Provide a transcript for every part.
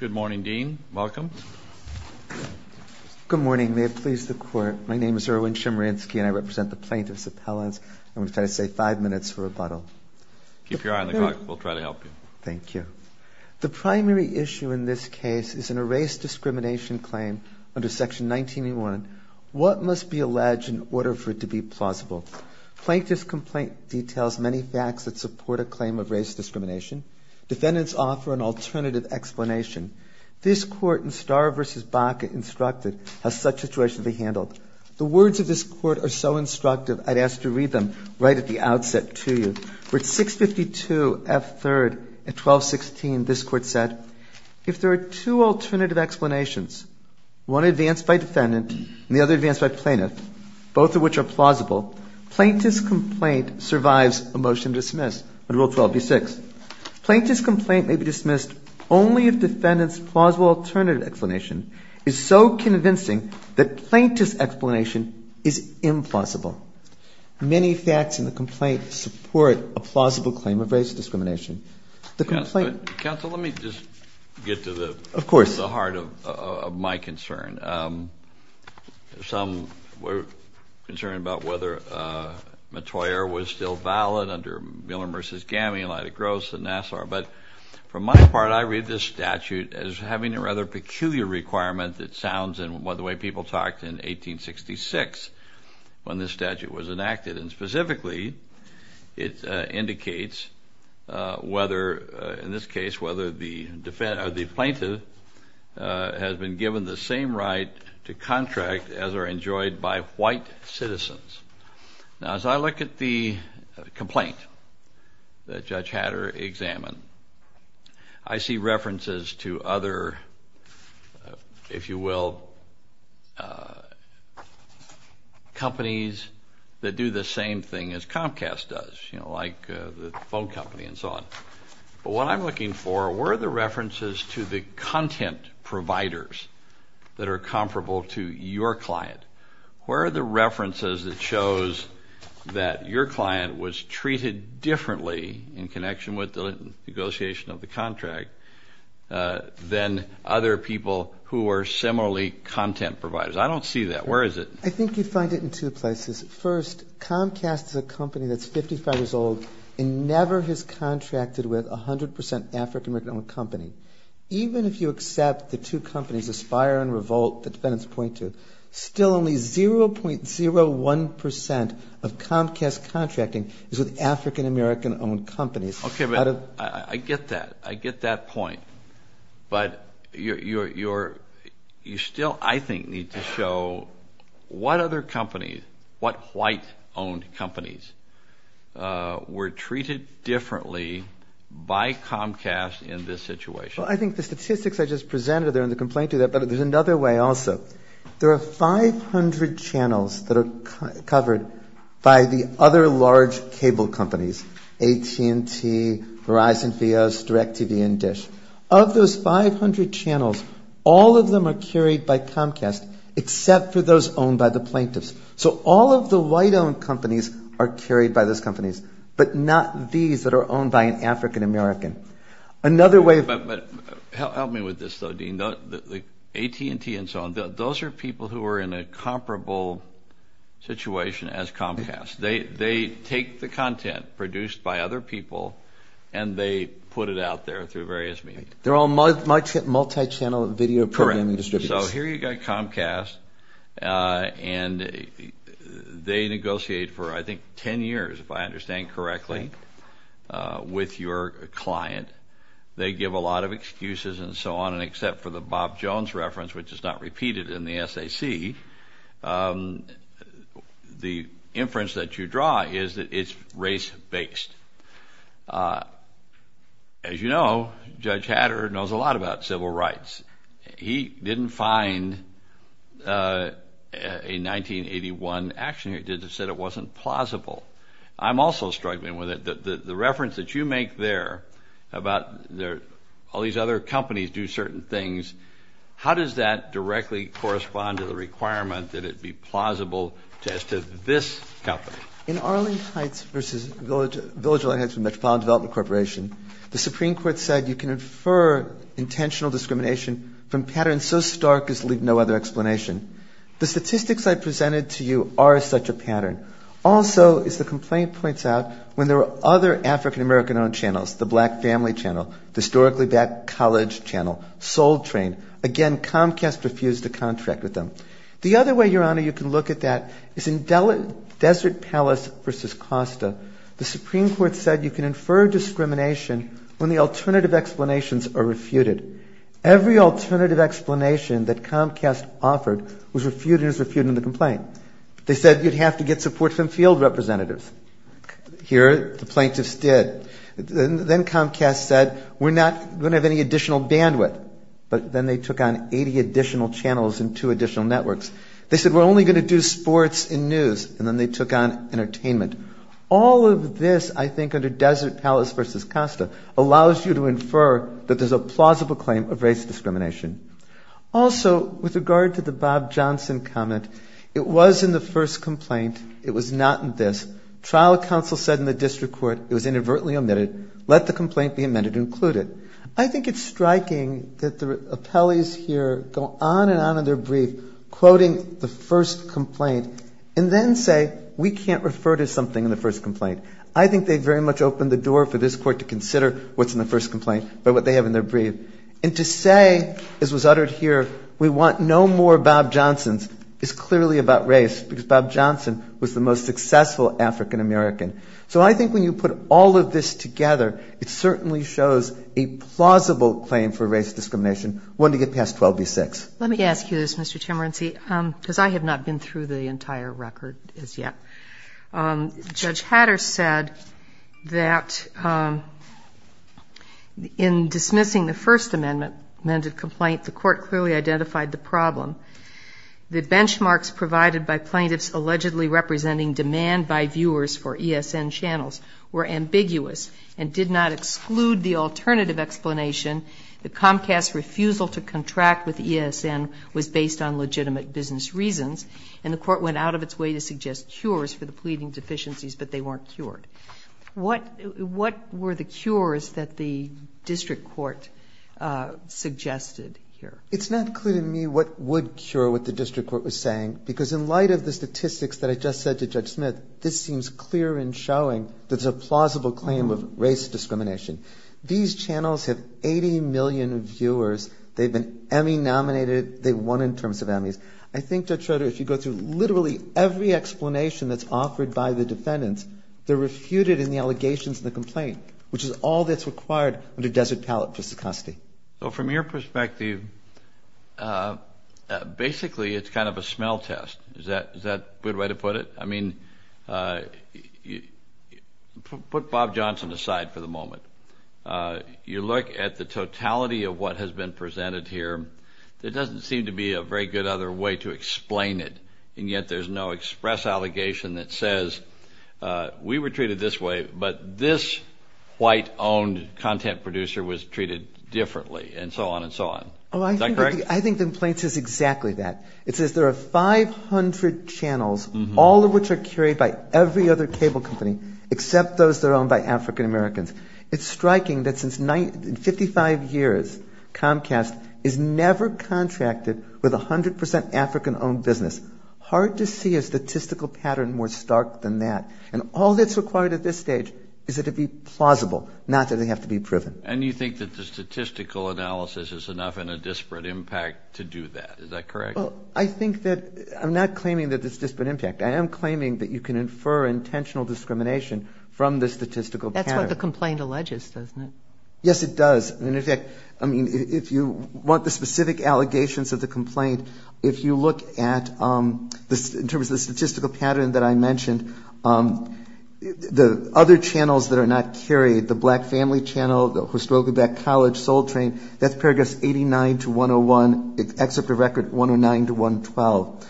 Good morning, Dean. Welcome. Good morning. May it please the Court, my name is Erwin Shimransky and I represent the Plaintiff's Appellants. I'm going to try to save five minutes for rebuttal. Keep your eye on the clock. We'll try to help you. Thank you. The primary issue in this case is in a race discrimination claim under Section 19A1. What must be alleged in order for it to be plausible? Plaintiff's complaint details many facts that support a claim of race discrimination. Defendants offer an alternative explanation. This Court in Starr v. Baca instructed how such a situation should be handled. The words of this Court are so instructive, I'd ask to read them right at the outset to you. For 652F3 at 1216, this Court said, If there are two alternative explanations, one advanced by defendant and the other advanced by plaintiff, both of which are plausible, plaintiff's complaint survives a motion to dismiss under Rule 12b-6. Plaintiff's complaint may be dismissed only if defendant's plausible alternative explanation is so convincing that plaintiff's explanation is implausible. Many facts in the complaint support a plausible claim of race discrimination. Counsel, let me just get to the heart of my concern. Some were concerned about whether Mottoyer was still valid under Miller v. Gammy, Lydic Gross, and Nassar. But from my part, I read this statute as having a rather peculiar requirement that sounds in the way people talked in 1866 when this statute was enacted. And specifically, it indicates whether, in this case, whether the plaintiff has been given the same right to contract as are enjoyed by white citizens. Now, as I look at the complaint that Judge Hatter examined, I see references to other, if you will, companies that do the same thing as Comcast does, you know, like the phone company and so on. But what I'm looking for were the references to the content providers that are comparable to your client. Where are the references that shows that your client was treated differently in connection with the negotiation of the contract than other people who are similarly content providers? I don't see that. Where is it? I think you find it in two places. First, Comcast is a company that's 55 years old and never has contracted with a 100 percent African-American-owned company. Even if you accept the two companies, Aspire and Revolt, the defendants point to, still only 0.01 percent of Comcast contracting is with African-American-owned companies. Okay, but I get that. I get that point. But you still, I think, need to show what other companies, what white-owned companies were treated differently by Comcast in this situation. Well, I think the statistics I just presented there in the complaint do that, but there's another way also. There are 500 channels that are covered by the other large cable companies, AT&T, Verizon, Vios, DirecTV, and Dish. Of those 500 channels, all of them are carried by Comcast, except for those owned by the plaintiffs. So all of the white-owned companies are carried by those companies, but not these that are owned by an African-American. But help me with this, though, Dean. AT&T and so on, those are people who are in a comparable situation as Comcast. They take the content produced by other people and they put it out there through various means. They're all multi-channel video programming distributors. Correct. So here you've got Comcast, and they negotiate for, I think, 10 years, if I understand correctly, with your client. They give a lot of excuses and so on, and except for the Bob Jones reference, which is not repeated in the SAC, the inference that you draw is that it's race-based. As you know, Judge Hatter knows a lot about civil rights. He didn't find a 1981 action here that said it wasn't plausible. I'm also struggling with it. The reference that you make there about all these other companies do certain things, how does that directly correspond to the requirement that it be plausible as to this company? In Arlington Heights v. Villageland Heights Metropolitan Development Corporation, the Supreme Court said you can infer intentional discrimination from patterns so stark as to leave no other explanation. The statistics I presented to you are such a pattern. Also, as the complaint points out, when there are other African-American-owned channels, the Black Family Channel, the Historically Black College Channel, Soul Train, again, Comcast refused to contract with them. The other way, Your Honor, you can look at that is in Desert Palace v. Costa. The Supreme Court said you can infer discrimination when the alternative explanations are refuted. Every alternative explanation that Comcast offered was refuted as refuting the complaint. They said you'd have to get support from field representatives. Here, the plaintiffs did. Then Comcast said we're not going to have any additional bandwidth. But then they took on 80 additional channels and two additional networks. They said we're only going to do sports and news, and then they took on entertainment. All of this, I think, under Desert Palace v. Costa allows you to infer that there's a plausible claim of race discrimination. Also, with regard to the Bob Johnson comment, it was in the first complaint. It was not in this. Trial counsel said in the district court it was inadvertently omitted. Let the complaint be amended and included. I think it's striking that the appellees here go on and on in their brief quoting the first complaint and then say we can't refer to something in the first complaint. I think they very much opened the door for this Court to consider what's in the first complaint by what they have in their brief. And to say, as was uttered here, we want no more Bob Johnsons is clearly about race because Bob Johnson was the most successful African-American. So I think when you put all of this together, it certainly shows a plausible claim for race discrimination, one to get past 12b-6. Let me ask you this, Mr. Chemerinsky, because I have not been through the entire record as yet. Judge Hatter said that in dismissing the First Amendment complaint, the Court clearly identified the problem. The benchmarks provided by plaintiffs allegedly representing demand by viewers for ESN channels were ambiguous and did not exclude the alternative explanation, the Comcast's refusal to contract with ESN was based on legitimate business reasons, and the Court went out of its way to suggest cures for the pleading deficiencies, but they weren't cured. What were the cures that the district court suggested here? It's not clear to me what would cure what the district court was saying, because in light of the statistics that I just said to Judge Smith, this seems clear in showing that it's a plausible claim of race discrimination. These channels have 80 million viewers. They've been Emmy nominated. They've won in terms of Emmys. I think, Judge Schroeder, if you go through literally every explanation that's offered by the defendants, they're refuted in the allegations in the complaint, which is all that's required under Desert Pallet for stochasticity. So from your perspective, basically it's kind of a smell test. Is that a good way to put it? I mean, put Bob Johnson aside for the moment. You look at the totality of what has been presented here, there doesn't seem to be a very good other way to explain it, and yet there's no express allegation that says we were treated this way, but this white-owned content producer was treated differently, and so on and so on. Is that correct? I think the complaint says exactly that. It says there are 500 channels, all of which are carried by every other cable company, except those that are owned by African-Americans. It's striking that since 55 years, Comcast is never contracted with 100% African-owned business. Hard to see a statistical pattern more stark than that. And all that's required at this stage is it to be plausible, not that it has to be proven. And you think that the statistical analysis is enough and a disparate impact to do that. Is that correct? I think that I'm not claiming that it's a disparate impact. I am claiming that you can infer intentional discrimination from the statistical pattern. That's what the complaint alleges, doesn't it? Yes, it does. And, in fact, I mean, if you want the specific allegations of the complaint, if you look at in terms of the statistical pattern that I mentioned, the other channels that are not carried, the Black Family Channel, Soul Train, that's paragraphs 89 to 101, except the record 109 to 112.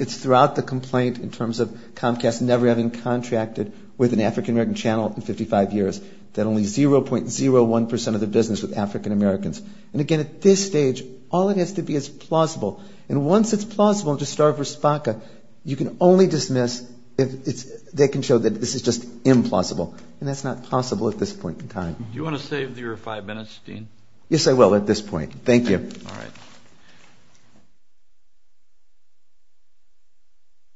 It's throughout the complaint in terms of Comcast never having contracted with an African-American channel in 55 years, that only 0.01% of the business was African-Americans. And, again, at this stage, all it has to be is plausible. And once it's plausible to start with SPACA, you can only dismiss if they can show that this is just implausible. And that's not possible at this point in time. Do you want to save your five minutes, Dean? Yes, I will at this point. Thank you. All right.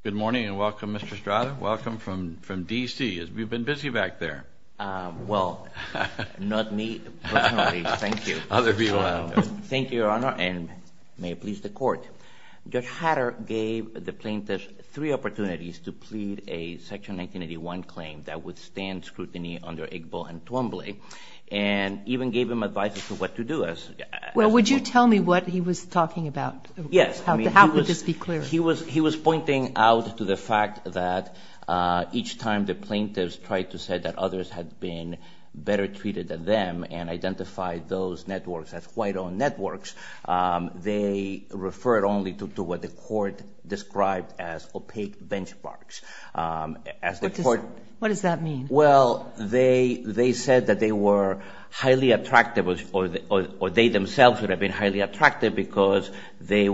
Good morning, and welcome, Mr. Strada. Welcome from D.C. We've been busy back there. Well, not me, personally. Thank you. Other people. Thank you, Your Honor, and may it please the Court. Judge Hatter gave the plaintiffs three opportunities to plead a Section 1981 claim that would stand scrutiny under Igbo and Twombly, and even gave them advice as to what to do. Well, would you tell me what he was talking about? Yes. How would this be clear? He was pointing out to the fact that each time the plaintiffs tried to say that others had been better treated than them and identified those networks as white-owned networks, they referred only to what the Court described as opaque benchmarks. What does that mean? Well, they said that they were highly attractive, or they themselves would have been highly attractive, because they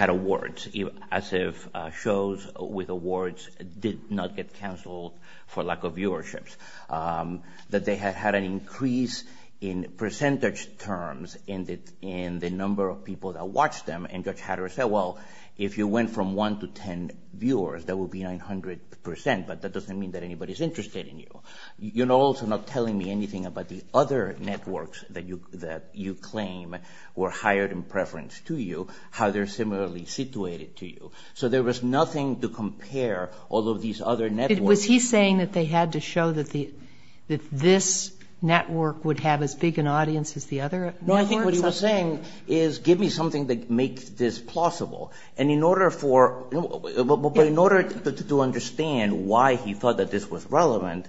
had awards, as if shows with awards did not get canceled for lack of viewerships, that they had had an increase in percentage terms in the number of people that watched them. And Judge Hatter said, well, if you went from 1 to 10 viewers, that would be 900 percent, but that doesn't mean that anybody is interested in you. You're also not telling me anything about the other networks that you claim were hired in preference to you, how they're similarly situated to you. So there was nothing to compare all of these other networks. Was he saying that they had to show that this network would have as big an audience as the other networks? You know, I think what he was saying is give me something that makes this plausible. And in order for ñ but in order to understand why he thought that this was relevant,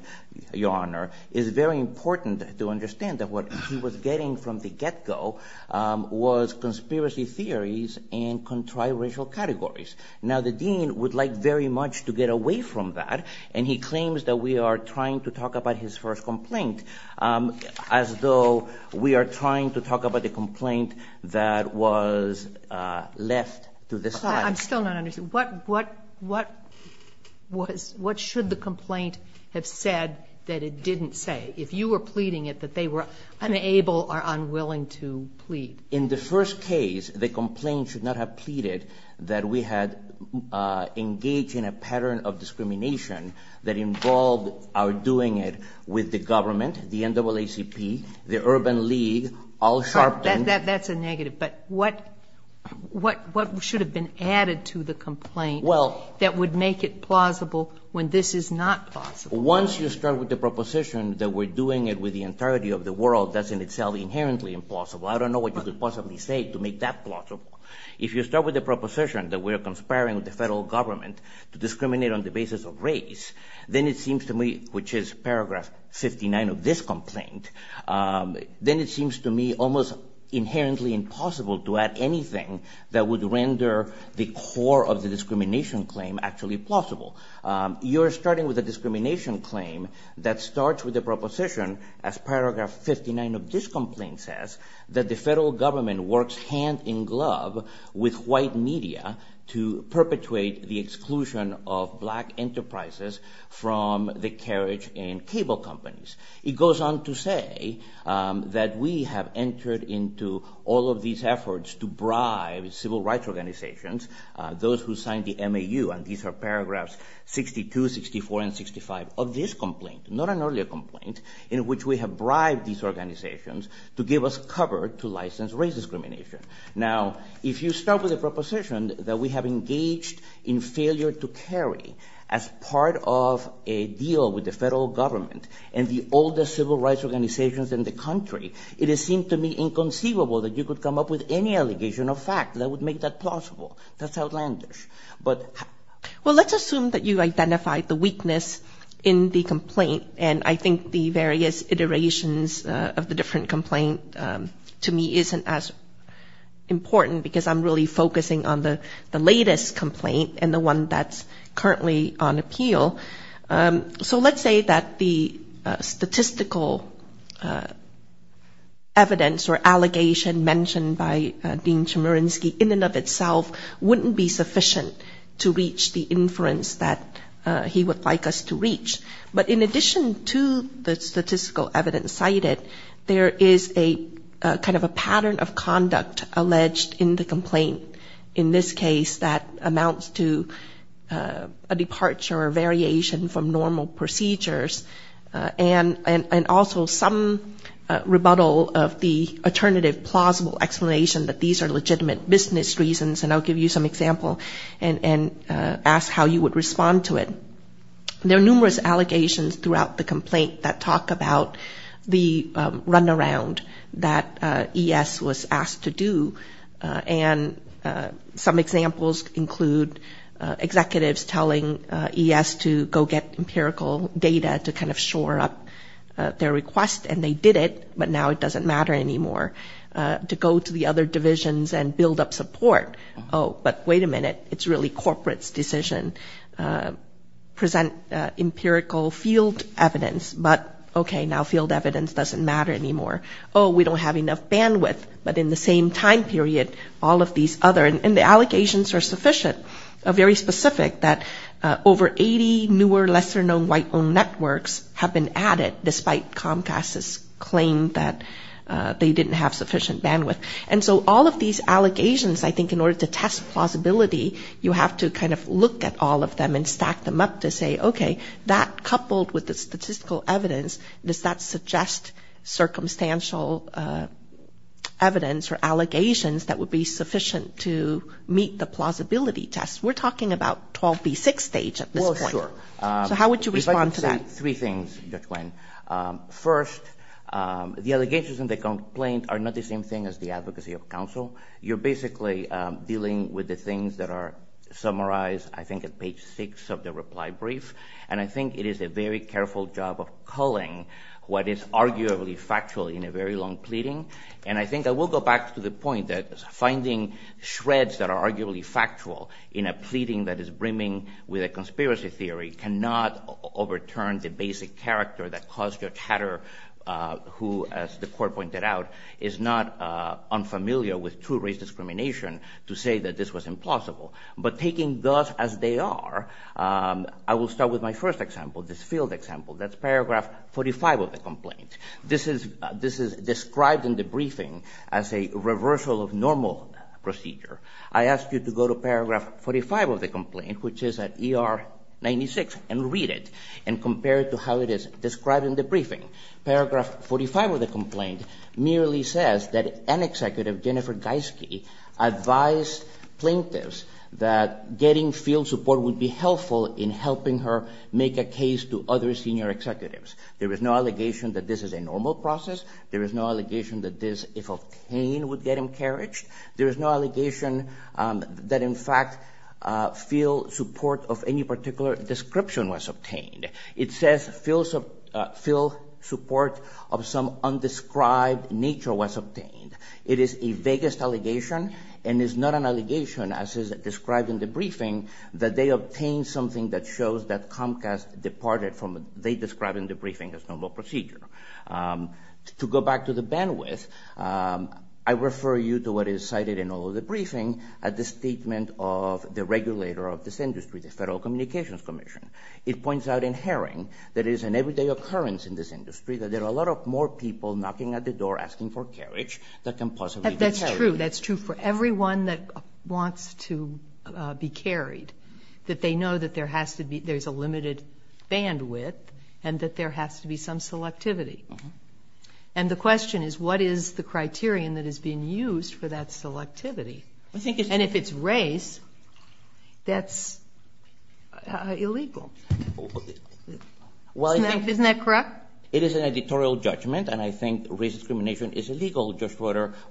Your Honor, it's very important to understand that what he was getting from the get-go was conspiracy theories and contri-racial categories. Now, the dean would like very much to get away from that, and he claims that we are trying to talk about his first complaint as though we are trying to talk about the complaint that was left to the side. I'm still not understanding. What should the complaint have said that it didn't say? If you were pleading it, that they were unable or unwilling to plead. In the first case, the complaint should not have pleaded that we had engaged in a pattern of discrimination that involved our doing it with the government, the NAACP, the Urban League, Al Sharpton. That's a negative. But what should have been added to the complaint that would make it plausible when this is not plausible? Once you start with the proposition that we're doing it with the entirety of the world, that's in itself inherently impossible. I don't know what you could possibly say to make that plausible. If you start with the proposition that we're conspiring with the federal government to discriminate on the basis of race, then it seems to me, which is paragraph 59 of this complaint, then it seems to me almost inherently impossible to add anything that would render the core of the discrimination claim actually plausible. You're starting with a discrimination claim that starts with the proposition, as paragraph 59 of this complaint says, that the federal government works hand in glove with white media to perpetuate the exclusion of black enterprises from the carriage and cable companies. It goes on to say that we have entered into all of these efforts to bribe civil rights organizations, those who signed the MAU, and these are paragraphs 62, 64, and 65 of this complaint, not an earlier complaint, in which we have bribed these organizations to give us cover to license race discrimination. Now, if you start with a proposition that we have engaged in failure to carry as part of a deal with the federal government and the oldest civil rights organizations in the country, it seems to me inconceivable that you could come up with any allegation of fact that would make that plausible. That's outlandish. Well, let's assume that you identified the weakness in the complaint, and I think the various iterations of the different complaint to me isn't as important because I'm really focusing on the latest complaint and the one that's currently on appeal. So let's say that the statistical evidence or allegation mentioned by Dean Chemerinsky in and of itself wouldn't be sufficient to reach the inference that he would like us to reach. But in addition to the statistical evidence cited, there is a kind of a pattern of conduct alleged in the complaint. In this case, that amounts to a departure or variation from normal procedures, and also some rebuttal of the alternative plausible explanation that these are legitimate business reasons, and I'll give you some example and ask how you would respond to it. There are numerous allegations throughout the complaint that talk about the runaround that ES was asked to do, and some examples include executives telling ES to go get empirical data to kind of shore up their request, and they did it, but now it doesn't matter anymore, to go to the other divisions and build up support. Oh, but wait a minute, it's really corporate's decision, present empirical field evidence, but okay, now field evidence doesn't matter anymore. Oh, we don't have enough bandwidth, but in the same time period, all of these other, and the allegations are sufficient, very specific, that over 80 newer lesser-known white-owned networks have been added, despite Comcast's claim that they didn't have sufficient bandwidth. And so all of these allegations, I think in order to test plausibility, you have to kind of look at all of them and stack them up to say, okay, that coupled with the statistical evidence, does that suggest circumstantial evidence or allegations that would be sufficient to meet the plausibility test? We're talking about 12B6 stage at this point. Well, sure. So how would you respond to that? I'd like to say three things, Judge Nguyen. First, the allegations in the complaint are not the same thing as the advocacy of counsel. You're basically dealing with the things that are summarized, I think, at page six of the reply brief, and I think it is a very careful job of culling what is arguably factual in a very long pleading, and I think I will go back to the point that finding shreds that are arguably factual in a pleading that is brimming with a conspiracy theory cannot overturn the basic character that caused Judge Hatter, who, as the court pointed out, is not unfamiliar with true race discrimination, to say that this was implausible. But taking those as they are, I will start with my first example, this field example. That's paragraph 45 of the complaint. This is described in the briefing as a reversal of normal procedure. I ask you to go to paragraph 45 of the complaint, which is at ER 96, and read it, and compare it to how it is described in the briefing. Paragraph 45 of the complaint merely says that an executive, Jennifer Geiske, advised plaintiffs that getting field support would be helpful in helping her make a case to other senior executives. There is no allegation that this is a normal process. There is no allegation that this, if obtained, would get encouraged. There is no allegation that, in fact, field support of any particular description was obtained. It says field support of some undescribed nature was obtained. It is a vaguest allegation and is not an allegation, as is described in the briefing, that they obtained something that shows that Comcast departed from what they described in the briefing as normal procedure. To go back to the bandwidth, I refer you to what is cited in all of the briefing at the statement of the regulator of this industry, the Federal Communications Commission. It points out in Herring that it is an everyday occurrence in this industry that there are a lot of more people knocking at the door asking for carriage that can possibly be carried. That's true. That's true for everyone that wants to be carried, that they know that there's a limited bandwidth and that there has to be some selectivity. And the question is, what is the criterion that is being used for that selectivity? And if it's race, that's illegal. Isn't that correct? It is an editorial judgment, and I think race discrimination is illegal.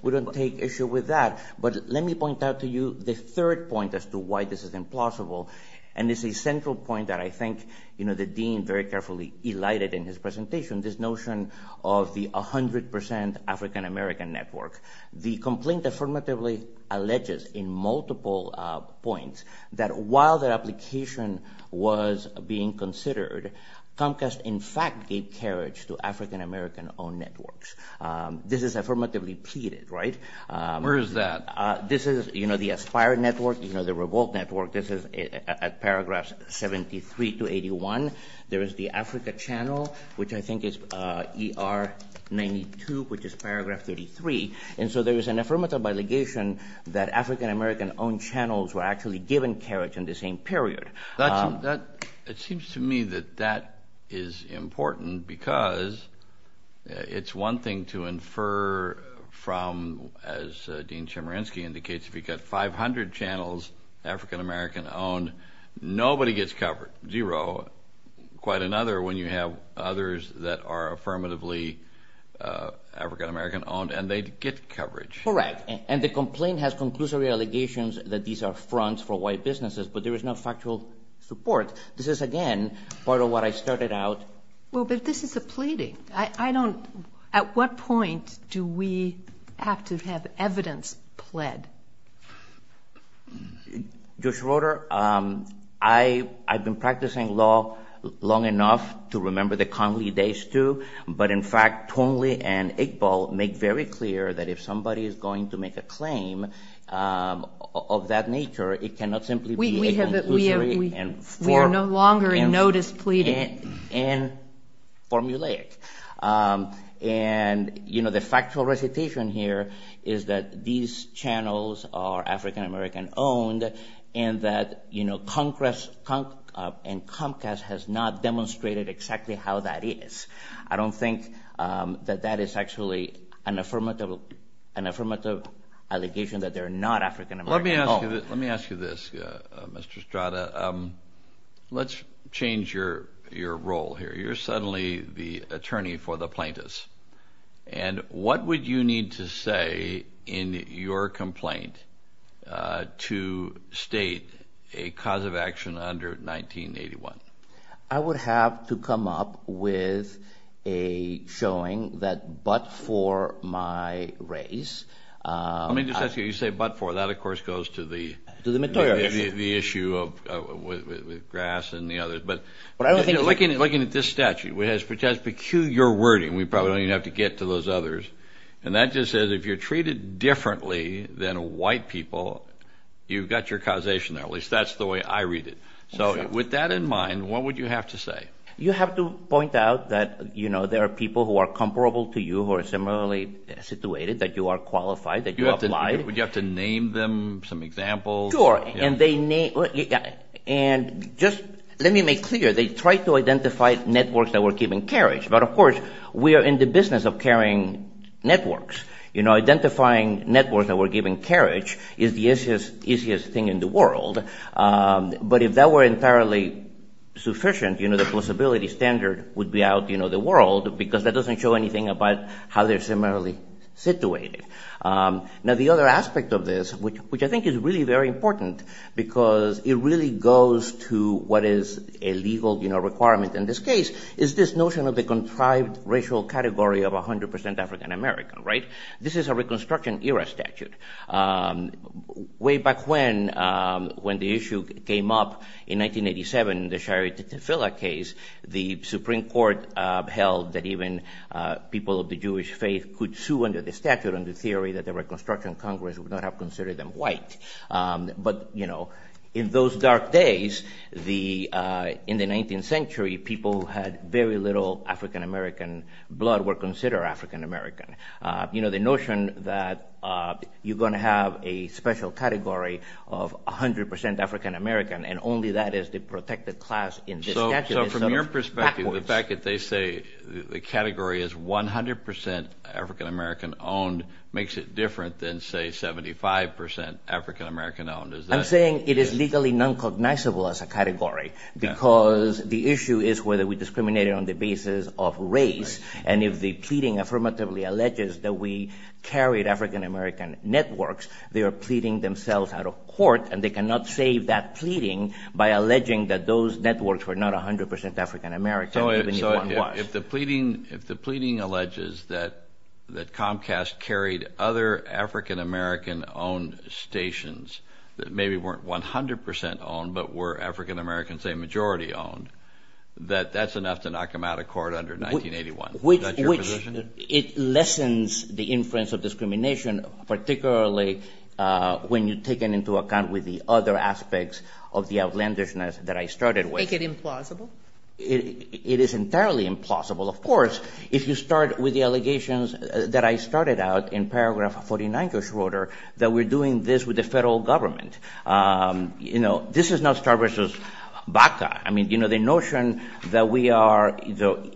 We don't take issue with that. But let me point out to you the third point as to why this is implausible, and it's a central point that I think the dean very carefully elided in his presentation, this notion of the 100 percent African-American network. The complaint affirmatively alleges in multiple points that while the application was being considered, Comcast in fact gave carriage to African-American-owned networks. This is affirmatively pleaded, right? Where is that? This is the Aspire Network, the Revolt Network. This is at paragraphs 73 to 81. There is the Africa Channel, which I think is ER 92, which is paragraph 33. And so there is an affirmative allegation that African-American-owned channels were actually given carriage in the same period. It seems to me that that is important because it's one thing to infer from, as Dean Chemerinsky indicates, if you've got 500 channels African-American-owned, nobody gets covered, zero. Quite another when you have others that are affirmatively African-American-owned and they get coverage. Correct. And the complaint has conclusory allegations that these are fronts for white businesses, but there is no factual support. This is, again, part of what I started out. Well, but this is a pleading. At what point do we have to have evidence pled? Judge Roder, I've been practicing law long enough to remember the Conley days, too. But, in fact, Conley and Iqbal make very clear that if somebody is going to make a claim of that nature, it cannot simply be inconclusive and formulaic. And the factual recitation here is that these channels are African-American-owned and that Comcast has not demonstrated exactly how that is. I don't think that that is actually an affirmative allegation that they're not African-American-owned. Let me ask you this, Mr. Estrada. Let's change your role here. You're suddenly the attorney for the plaintiffs. And what would you need to say in your complaint to state a cause of action under 1981? I would have to come up with a showing that but for my race. Let me just ask you, you say but for. That, of course, goes to the issue of grass and the others. But looking at this statute, which has peculiar wording, we probably don't even have to get to those others. And that just says if you're treated differently than white people, you've got your causation there. At least that's the way I read it. So with that in mind, what would you have to say? You have to point out that, you know, there are people who are comparable to you who are similarly situated, that you are qualified, that you apply. Would you have to name them some examples? Sure. And just let me make clear, they tried to identify networks that were giving carriage. But, of course, we are in the business of carrying networks. Identifying networks that were giving carriage is the easiest thing in the world. But if that were entirely sufficient, the plausibility standard would be out the world because that doesn't show anything about how they're similarly situated. Now, the other aspect of this, which I think is really very important because it really goes to what is a legal requirement in this case, is this notion of the contrived racial category of 100 percent African American. This is a Reconstruction era statute. Way back when, when the issue came up in 1987, the Shirey Tefilah case, the Supreme Court held that even people of the Jewish faith could sue under the statute on the theory that the Reconstruction Congress would not have considered them white. But, you know, in those dark days, in the 19th century, people who had very little African American blood were considered African American. So the notion that you're going to have a special category of 100 percent African American and only that is the protected class in this statute is sort of backwards. So from your perspective, the fact that they say the category is 100 percent African American owned makes it different than, say, 75 percent African American owned. I'm saying it is legally non-cognizable as a category because the issue is whether we discriminate on the basis of race. And if the pleading affirmatively alleges that we carried African American networks, they are pleading themselves out of court and they cannot save that pleading by alleging that those networks were not 100 percent African American even if one was. If the pleading alleges that Comcast carried other African American owned stations that maybe weren't 100 percent owned but were African American, say, majority owned, that that's enough to knock them out of court under 1981. Is that your position? Which it lessens the influence of discrimination, particularly when you take it into account with the other aspects of the outlandishness that I started with. Make it implausible? It is entirely implausible. Of course, if you start with the allegations that I started out in paragraph 49, that we're doing this with the federal government. You know, this is not Star Vs. Baca. I mean, you know, the notion that we are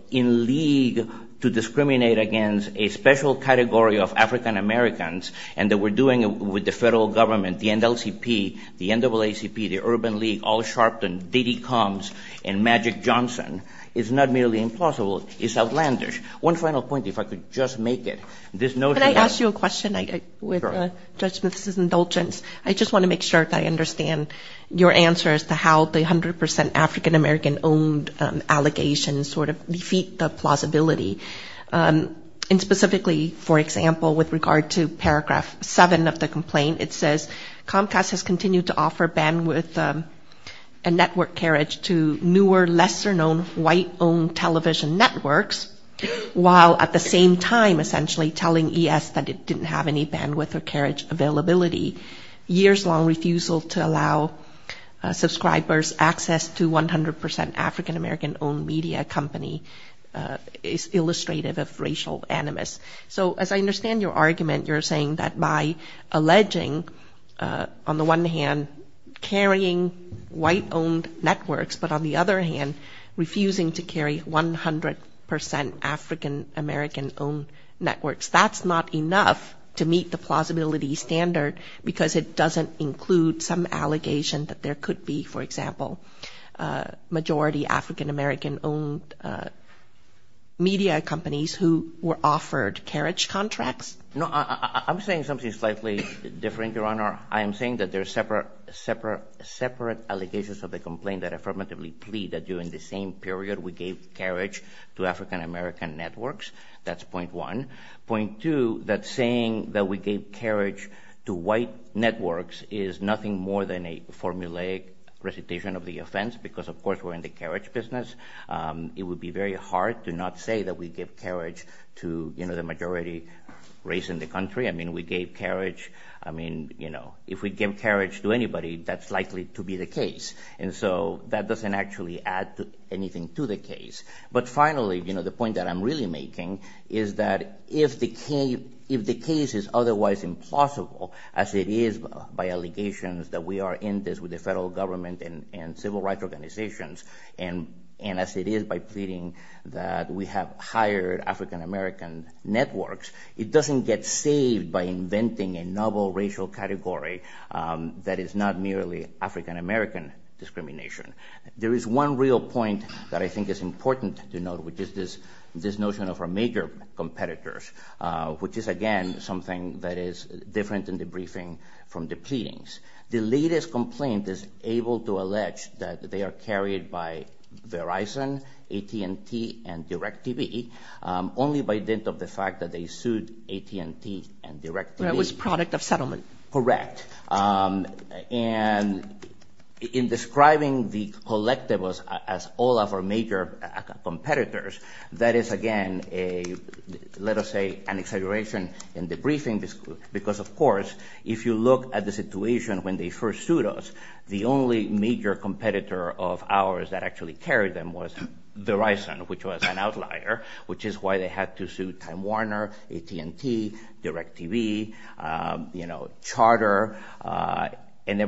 in league to discriminate against a special category of African Americans and that we're doing it with the federal government, the NLCP, the NAACP, the Urban League, All Sharpton, DD Coms and Magic Johnson is not merely implausible, it's outlandish. One final point, if I could just make it. Can I ask you a question with Judge Smith's indulgence? I just want to make sure that I understand your answer as to how the 100 percent African American owned allegations sort of defeat the plausibility. And specifically, for example, with regard to paragraph seven of the complaint, it says Comcast has continued to offer bandwidth and network carriage to newer, lesser known, white owned television networks, while at the same time, essentially, taking advantage of the fact that they are African American. And telling ES that it didn't have any bandwidth or carriage availability. Years long refusal to allow subscribers access to 100 percent African American owned media company is illustrative of racial animus. So as I understand your argument, you're saying that by alleging, on the one hand, carrying white owned networks, but on the other hand, refusing to carry 100 percent African American owned networks. That's not enough to meet the plausibility standard, because it doesn't include some allegation that there could be, for example, majority African American owned media companies who were offered carriage contracts? No, I'm saying something slightly different, Your Honor. I am saying that there are separate allegations of the complaint that affirmatively plead that during the same period we gave carriage to African American networks. That's point one. Point two, that saying that we gave carriage to white networks is nothing more than a formulaic recitation of the offense, because of course we're in the carriage business. It would be very hard to not say that we give carriage to the majority race in the country. I mean, we gave carriage, I mean, if we give carriage to anybody, that's likely to be the case. And so that doesn't actually add anything to the case. But finally, the point that I'm really making is that if the case is otherwise implausible, as it is by allegations that we are in this with the federal government and civil rights organizations, and as it is by pleading that we have hired African American networks, it doesn't get saved by inventing a novel racial category that is not merely African American discrimination. There is one real point that I think is important to note, which is this notion of our major competitors, which is, again, something that is different in the briefing from the pleadings. The latest complaint is able to allege that they are carried by Verizon, AT&T, and DirecTV, only by dint of the fact that they sued AT&T and DirecTV. But it was product of settlement. Correct. And in describing the collectibles as all of our major competitors, that is, again, a, let us say, an exaggeration in the briefing, because, of course, if you look at the situation when they first sued us, the only major competitor of ours that actually carried them was Verizon, which was an outlier, which is why they had to sue Time Warner, AT&T, DirecTV. And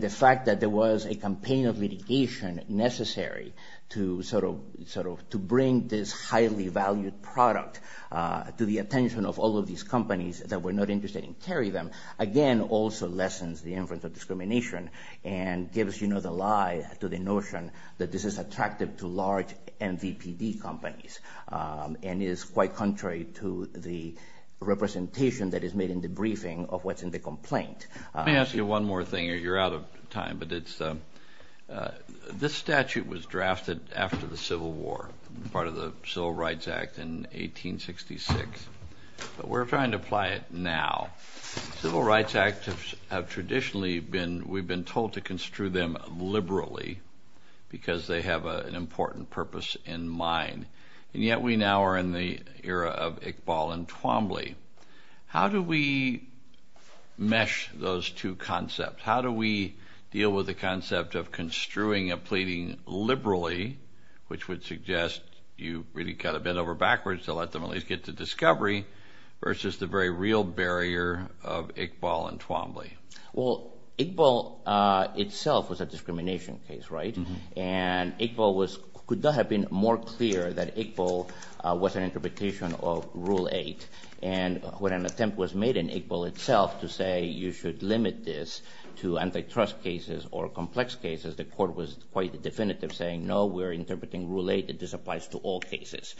the fact that there was a campaign of litigation necessary to sort of bring this highly valued product to the attention of all of these companies that were not interested in carrying them, again, also lessens the influence of discrimination and gives, you know, the lie to the notion that this is attractive to large MVPD companies. And it is quite contrary to the representation that is made in the briefing of what's in the complaint. Let me ask you one more thing, or you're out of time, but it's, this statute was drafted after the Civil War, part of the Civil Rights Act in 1866. But we're trying to apply it now. The Civil Rights Act have traditionally been, we've been told to construe them liberally because they have an important purpose in mind. And yet we now are in the era of Iqbal and Twombly. How do we mesh those two concepts? How do we deal with the concept of construing a pleading liberally, which would suggest you really cut a bend over backwards to let them at least get to discovery, versus the very real barrier of Iqbal and Twombly? Well, Iqbal itself was a discrimination case, right? And Iqbal was, could not have been more clear that Iqbal was an interpretation of Rule 8. And when an attempt was made in Iqbal itself to say, you should limit this to antitrust cases or complex cases, the court was quite definitive, saying, no, we're interpreting Rule 8. This applies to all cases.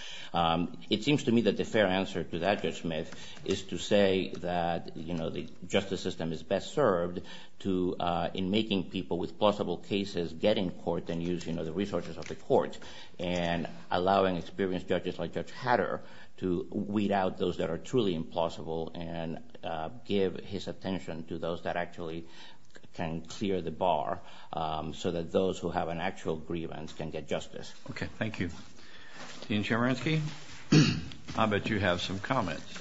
It seems to me that the fair answer to that judgment is to say that, you know, the justice system is best served to, in making people with possible cases get in court. And use, you know, the resources of the court. And allowing experienced judges like Judge Hatter to weed out those that are truly implausible and give his attention to those that actually can clear the bar so that those who have an actual grievance can get justice. Okay, thank you. Dean Chemerinsky, I bet you have some comments.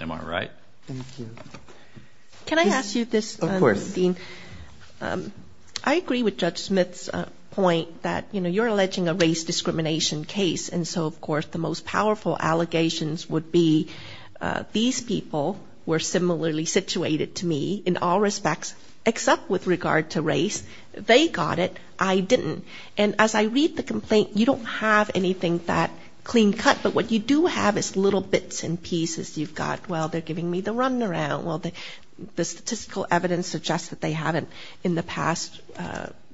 Am I right? Can I ask you this, Dean? I agree with Judge Smith's point that, you know, you're alleging a race discrimination case. And so, of course, the most powerful allegations would be these people were similarly situated to me in all respects, except with regard to race. They got it, I didn't. And as I read the complaint, you don't have anything that clean cut. But what you do have is little bits and pieces. You've got, well, they're giving me the runaround. Well, the statistical evidence suggests that they haven't in the past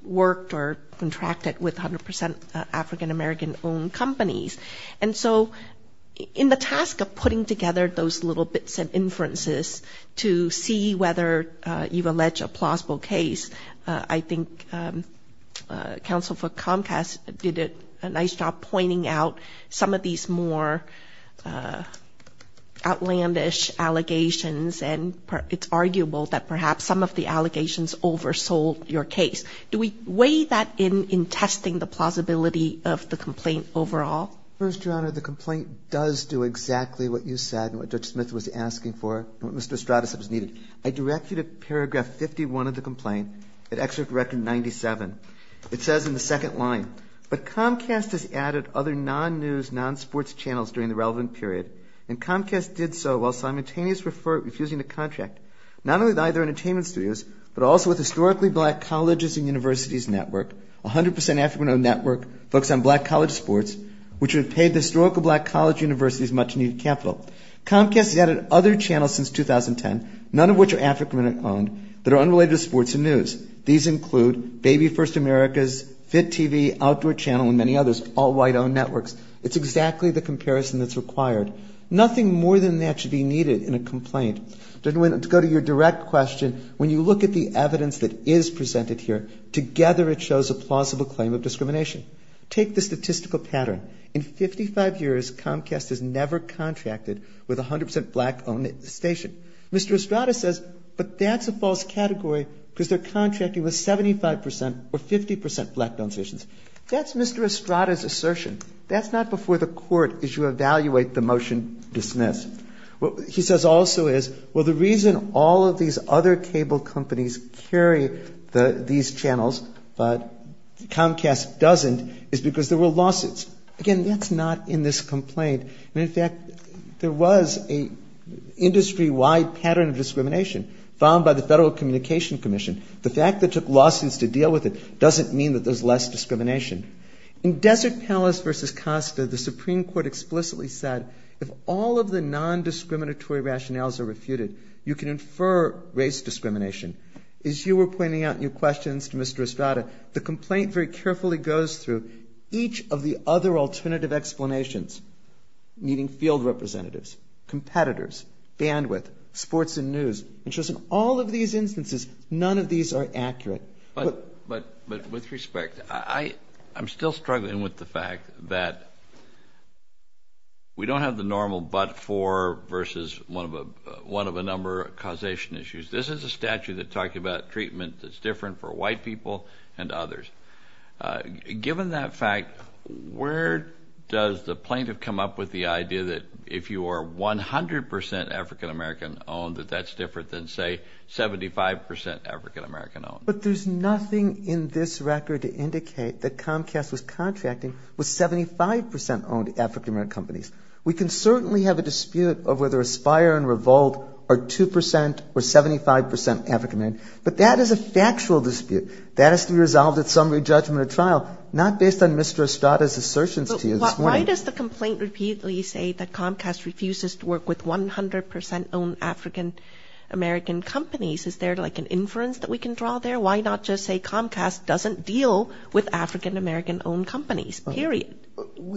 worked or contracted with 100% African-American-owned companies. And so in the task of putting together those little bits and inferences to see whether you've alleged a plausible case, I think counsel for Comcast did a nice job pointing out some of these more outlandish allegations. And it's arguable that perhaps some of the allegations oversold your case. Do we weigh that in testing the plausibility of the complaint overall? First, Your Honor, the complaint does do exactly what you said and what Judge Smith was asking for and what Mr. Estrada said was needed. I direct you to paragraph 51 of the complaint, at excerpt record 97. It says in the second line, but Comcast has added other non-news, non-sports channels during the relevant period, and Comcast did so while simultaneously refusing to contract, not only with either entertainment studios, but also with historically black colleges and universities. Comcast has added other channels since 2010, none of which are African-owned, that are unrelated to sports and news. These include Baby First America's, Fit TV, Outdoor Channel, and many others, all white-owned networks. It's exactly the comparison that's required. Nothing more than that should be needed in a complaint. To go to your direct question, when you look at the evidence that is presented here, together it shows a plausible claim of discrimination. Take the statistical pattern. In 55 years, Comcast has never contracted with a 100% black-owned station. Mr. Estrada says, but that's a false category because they're contracting with 75% or 50% black-owned stations. That's Mr. Estrada's assertion. That's not before the court as you evaluate the motion dismissed. He says also is, well, the reason all of these other cable companies carry these channels, but Comcast doesn't, is because there were lawsuits. Again, that's not in this complaint. In fact, there was an industry-wide pattern of discrimination found by the Federal Communication Commission. The fact that it took lawsuits to deal with it doesn't mean that there's less discrimination. In Desert Palace v. Costa, the Supreme Court explicitly said if all of the nondiscriminatory rationales are refuted, you can infer race discrimination. As you were pointing out in your questions to Mr. Estrada, the complaint very carefully goes through each of the other alternative explanations, meaning field representatives, competitors, bandwidth, sports and news. All of these instances, none of these are accurate. But with respect, I'm still struggling with the fact that we don't have the normal but-for versus one-of-a-number causation issues. This is a statute that talks about treatment that's different for white people and others. Given that fact, where does the plaintiff come up with the idea that if you are 100% African-American-owned, that that's different? That's different than, say, 75% African-American-owned. But there's nothing in this record to indicate that Comcast was contracting with 75%-owned African-American companies. We can certainly have a dispute over whether Aspire and Revolt are 2% or 75% African-American, but that is a factual dispute. That has to be resolved at summary judgment or trial, not based on Mr. Estrada's assertions to you this morning. But why does the complaint repeatedly say that Comcast refuses to work with 100%-owned African-American companies? Is there, like, an inference that we can draw there? Why not just say Comcast doesn't deal with African-American-owned companies, period?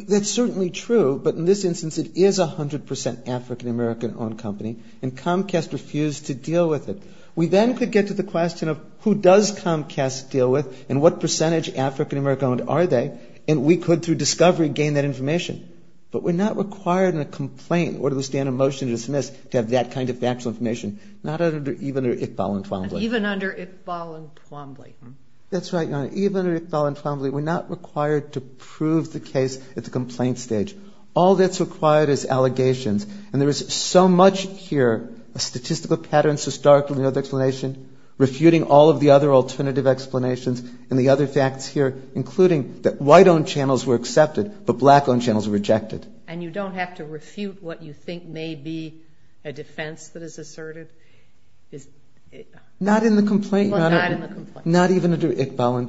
That's certainly true, but in this instance it is 100% African-American-owned company, and Comcast refused to deal with it. We then could get to the question of who does Comcast deal with and what percentage African-American-owned are they, and we could, through discovery, gain that information. But we're not required in a complaint in order to withstand a motion to dismiss to have that kind of factual information, not even under if, ball, and twombly. Even under if, ball, and twombly. That's right, Your Honor. Even under if, ball, and twombly, we're not required to prove the case at the complaint stage. All that's required is allegations, and there is so much here, a statistical pattern so starkly in the explanation, refuting all of the other alternative explanations and the other facts here, including that white-owned channels were accepted, but black-owned channels were rejected. And you don't have to refute what you think may be a defense that is asserted? Not in the complaint, Your Honor. Well, not in the complaint. Not even under if, ball, and twombly.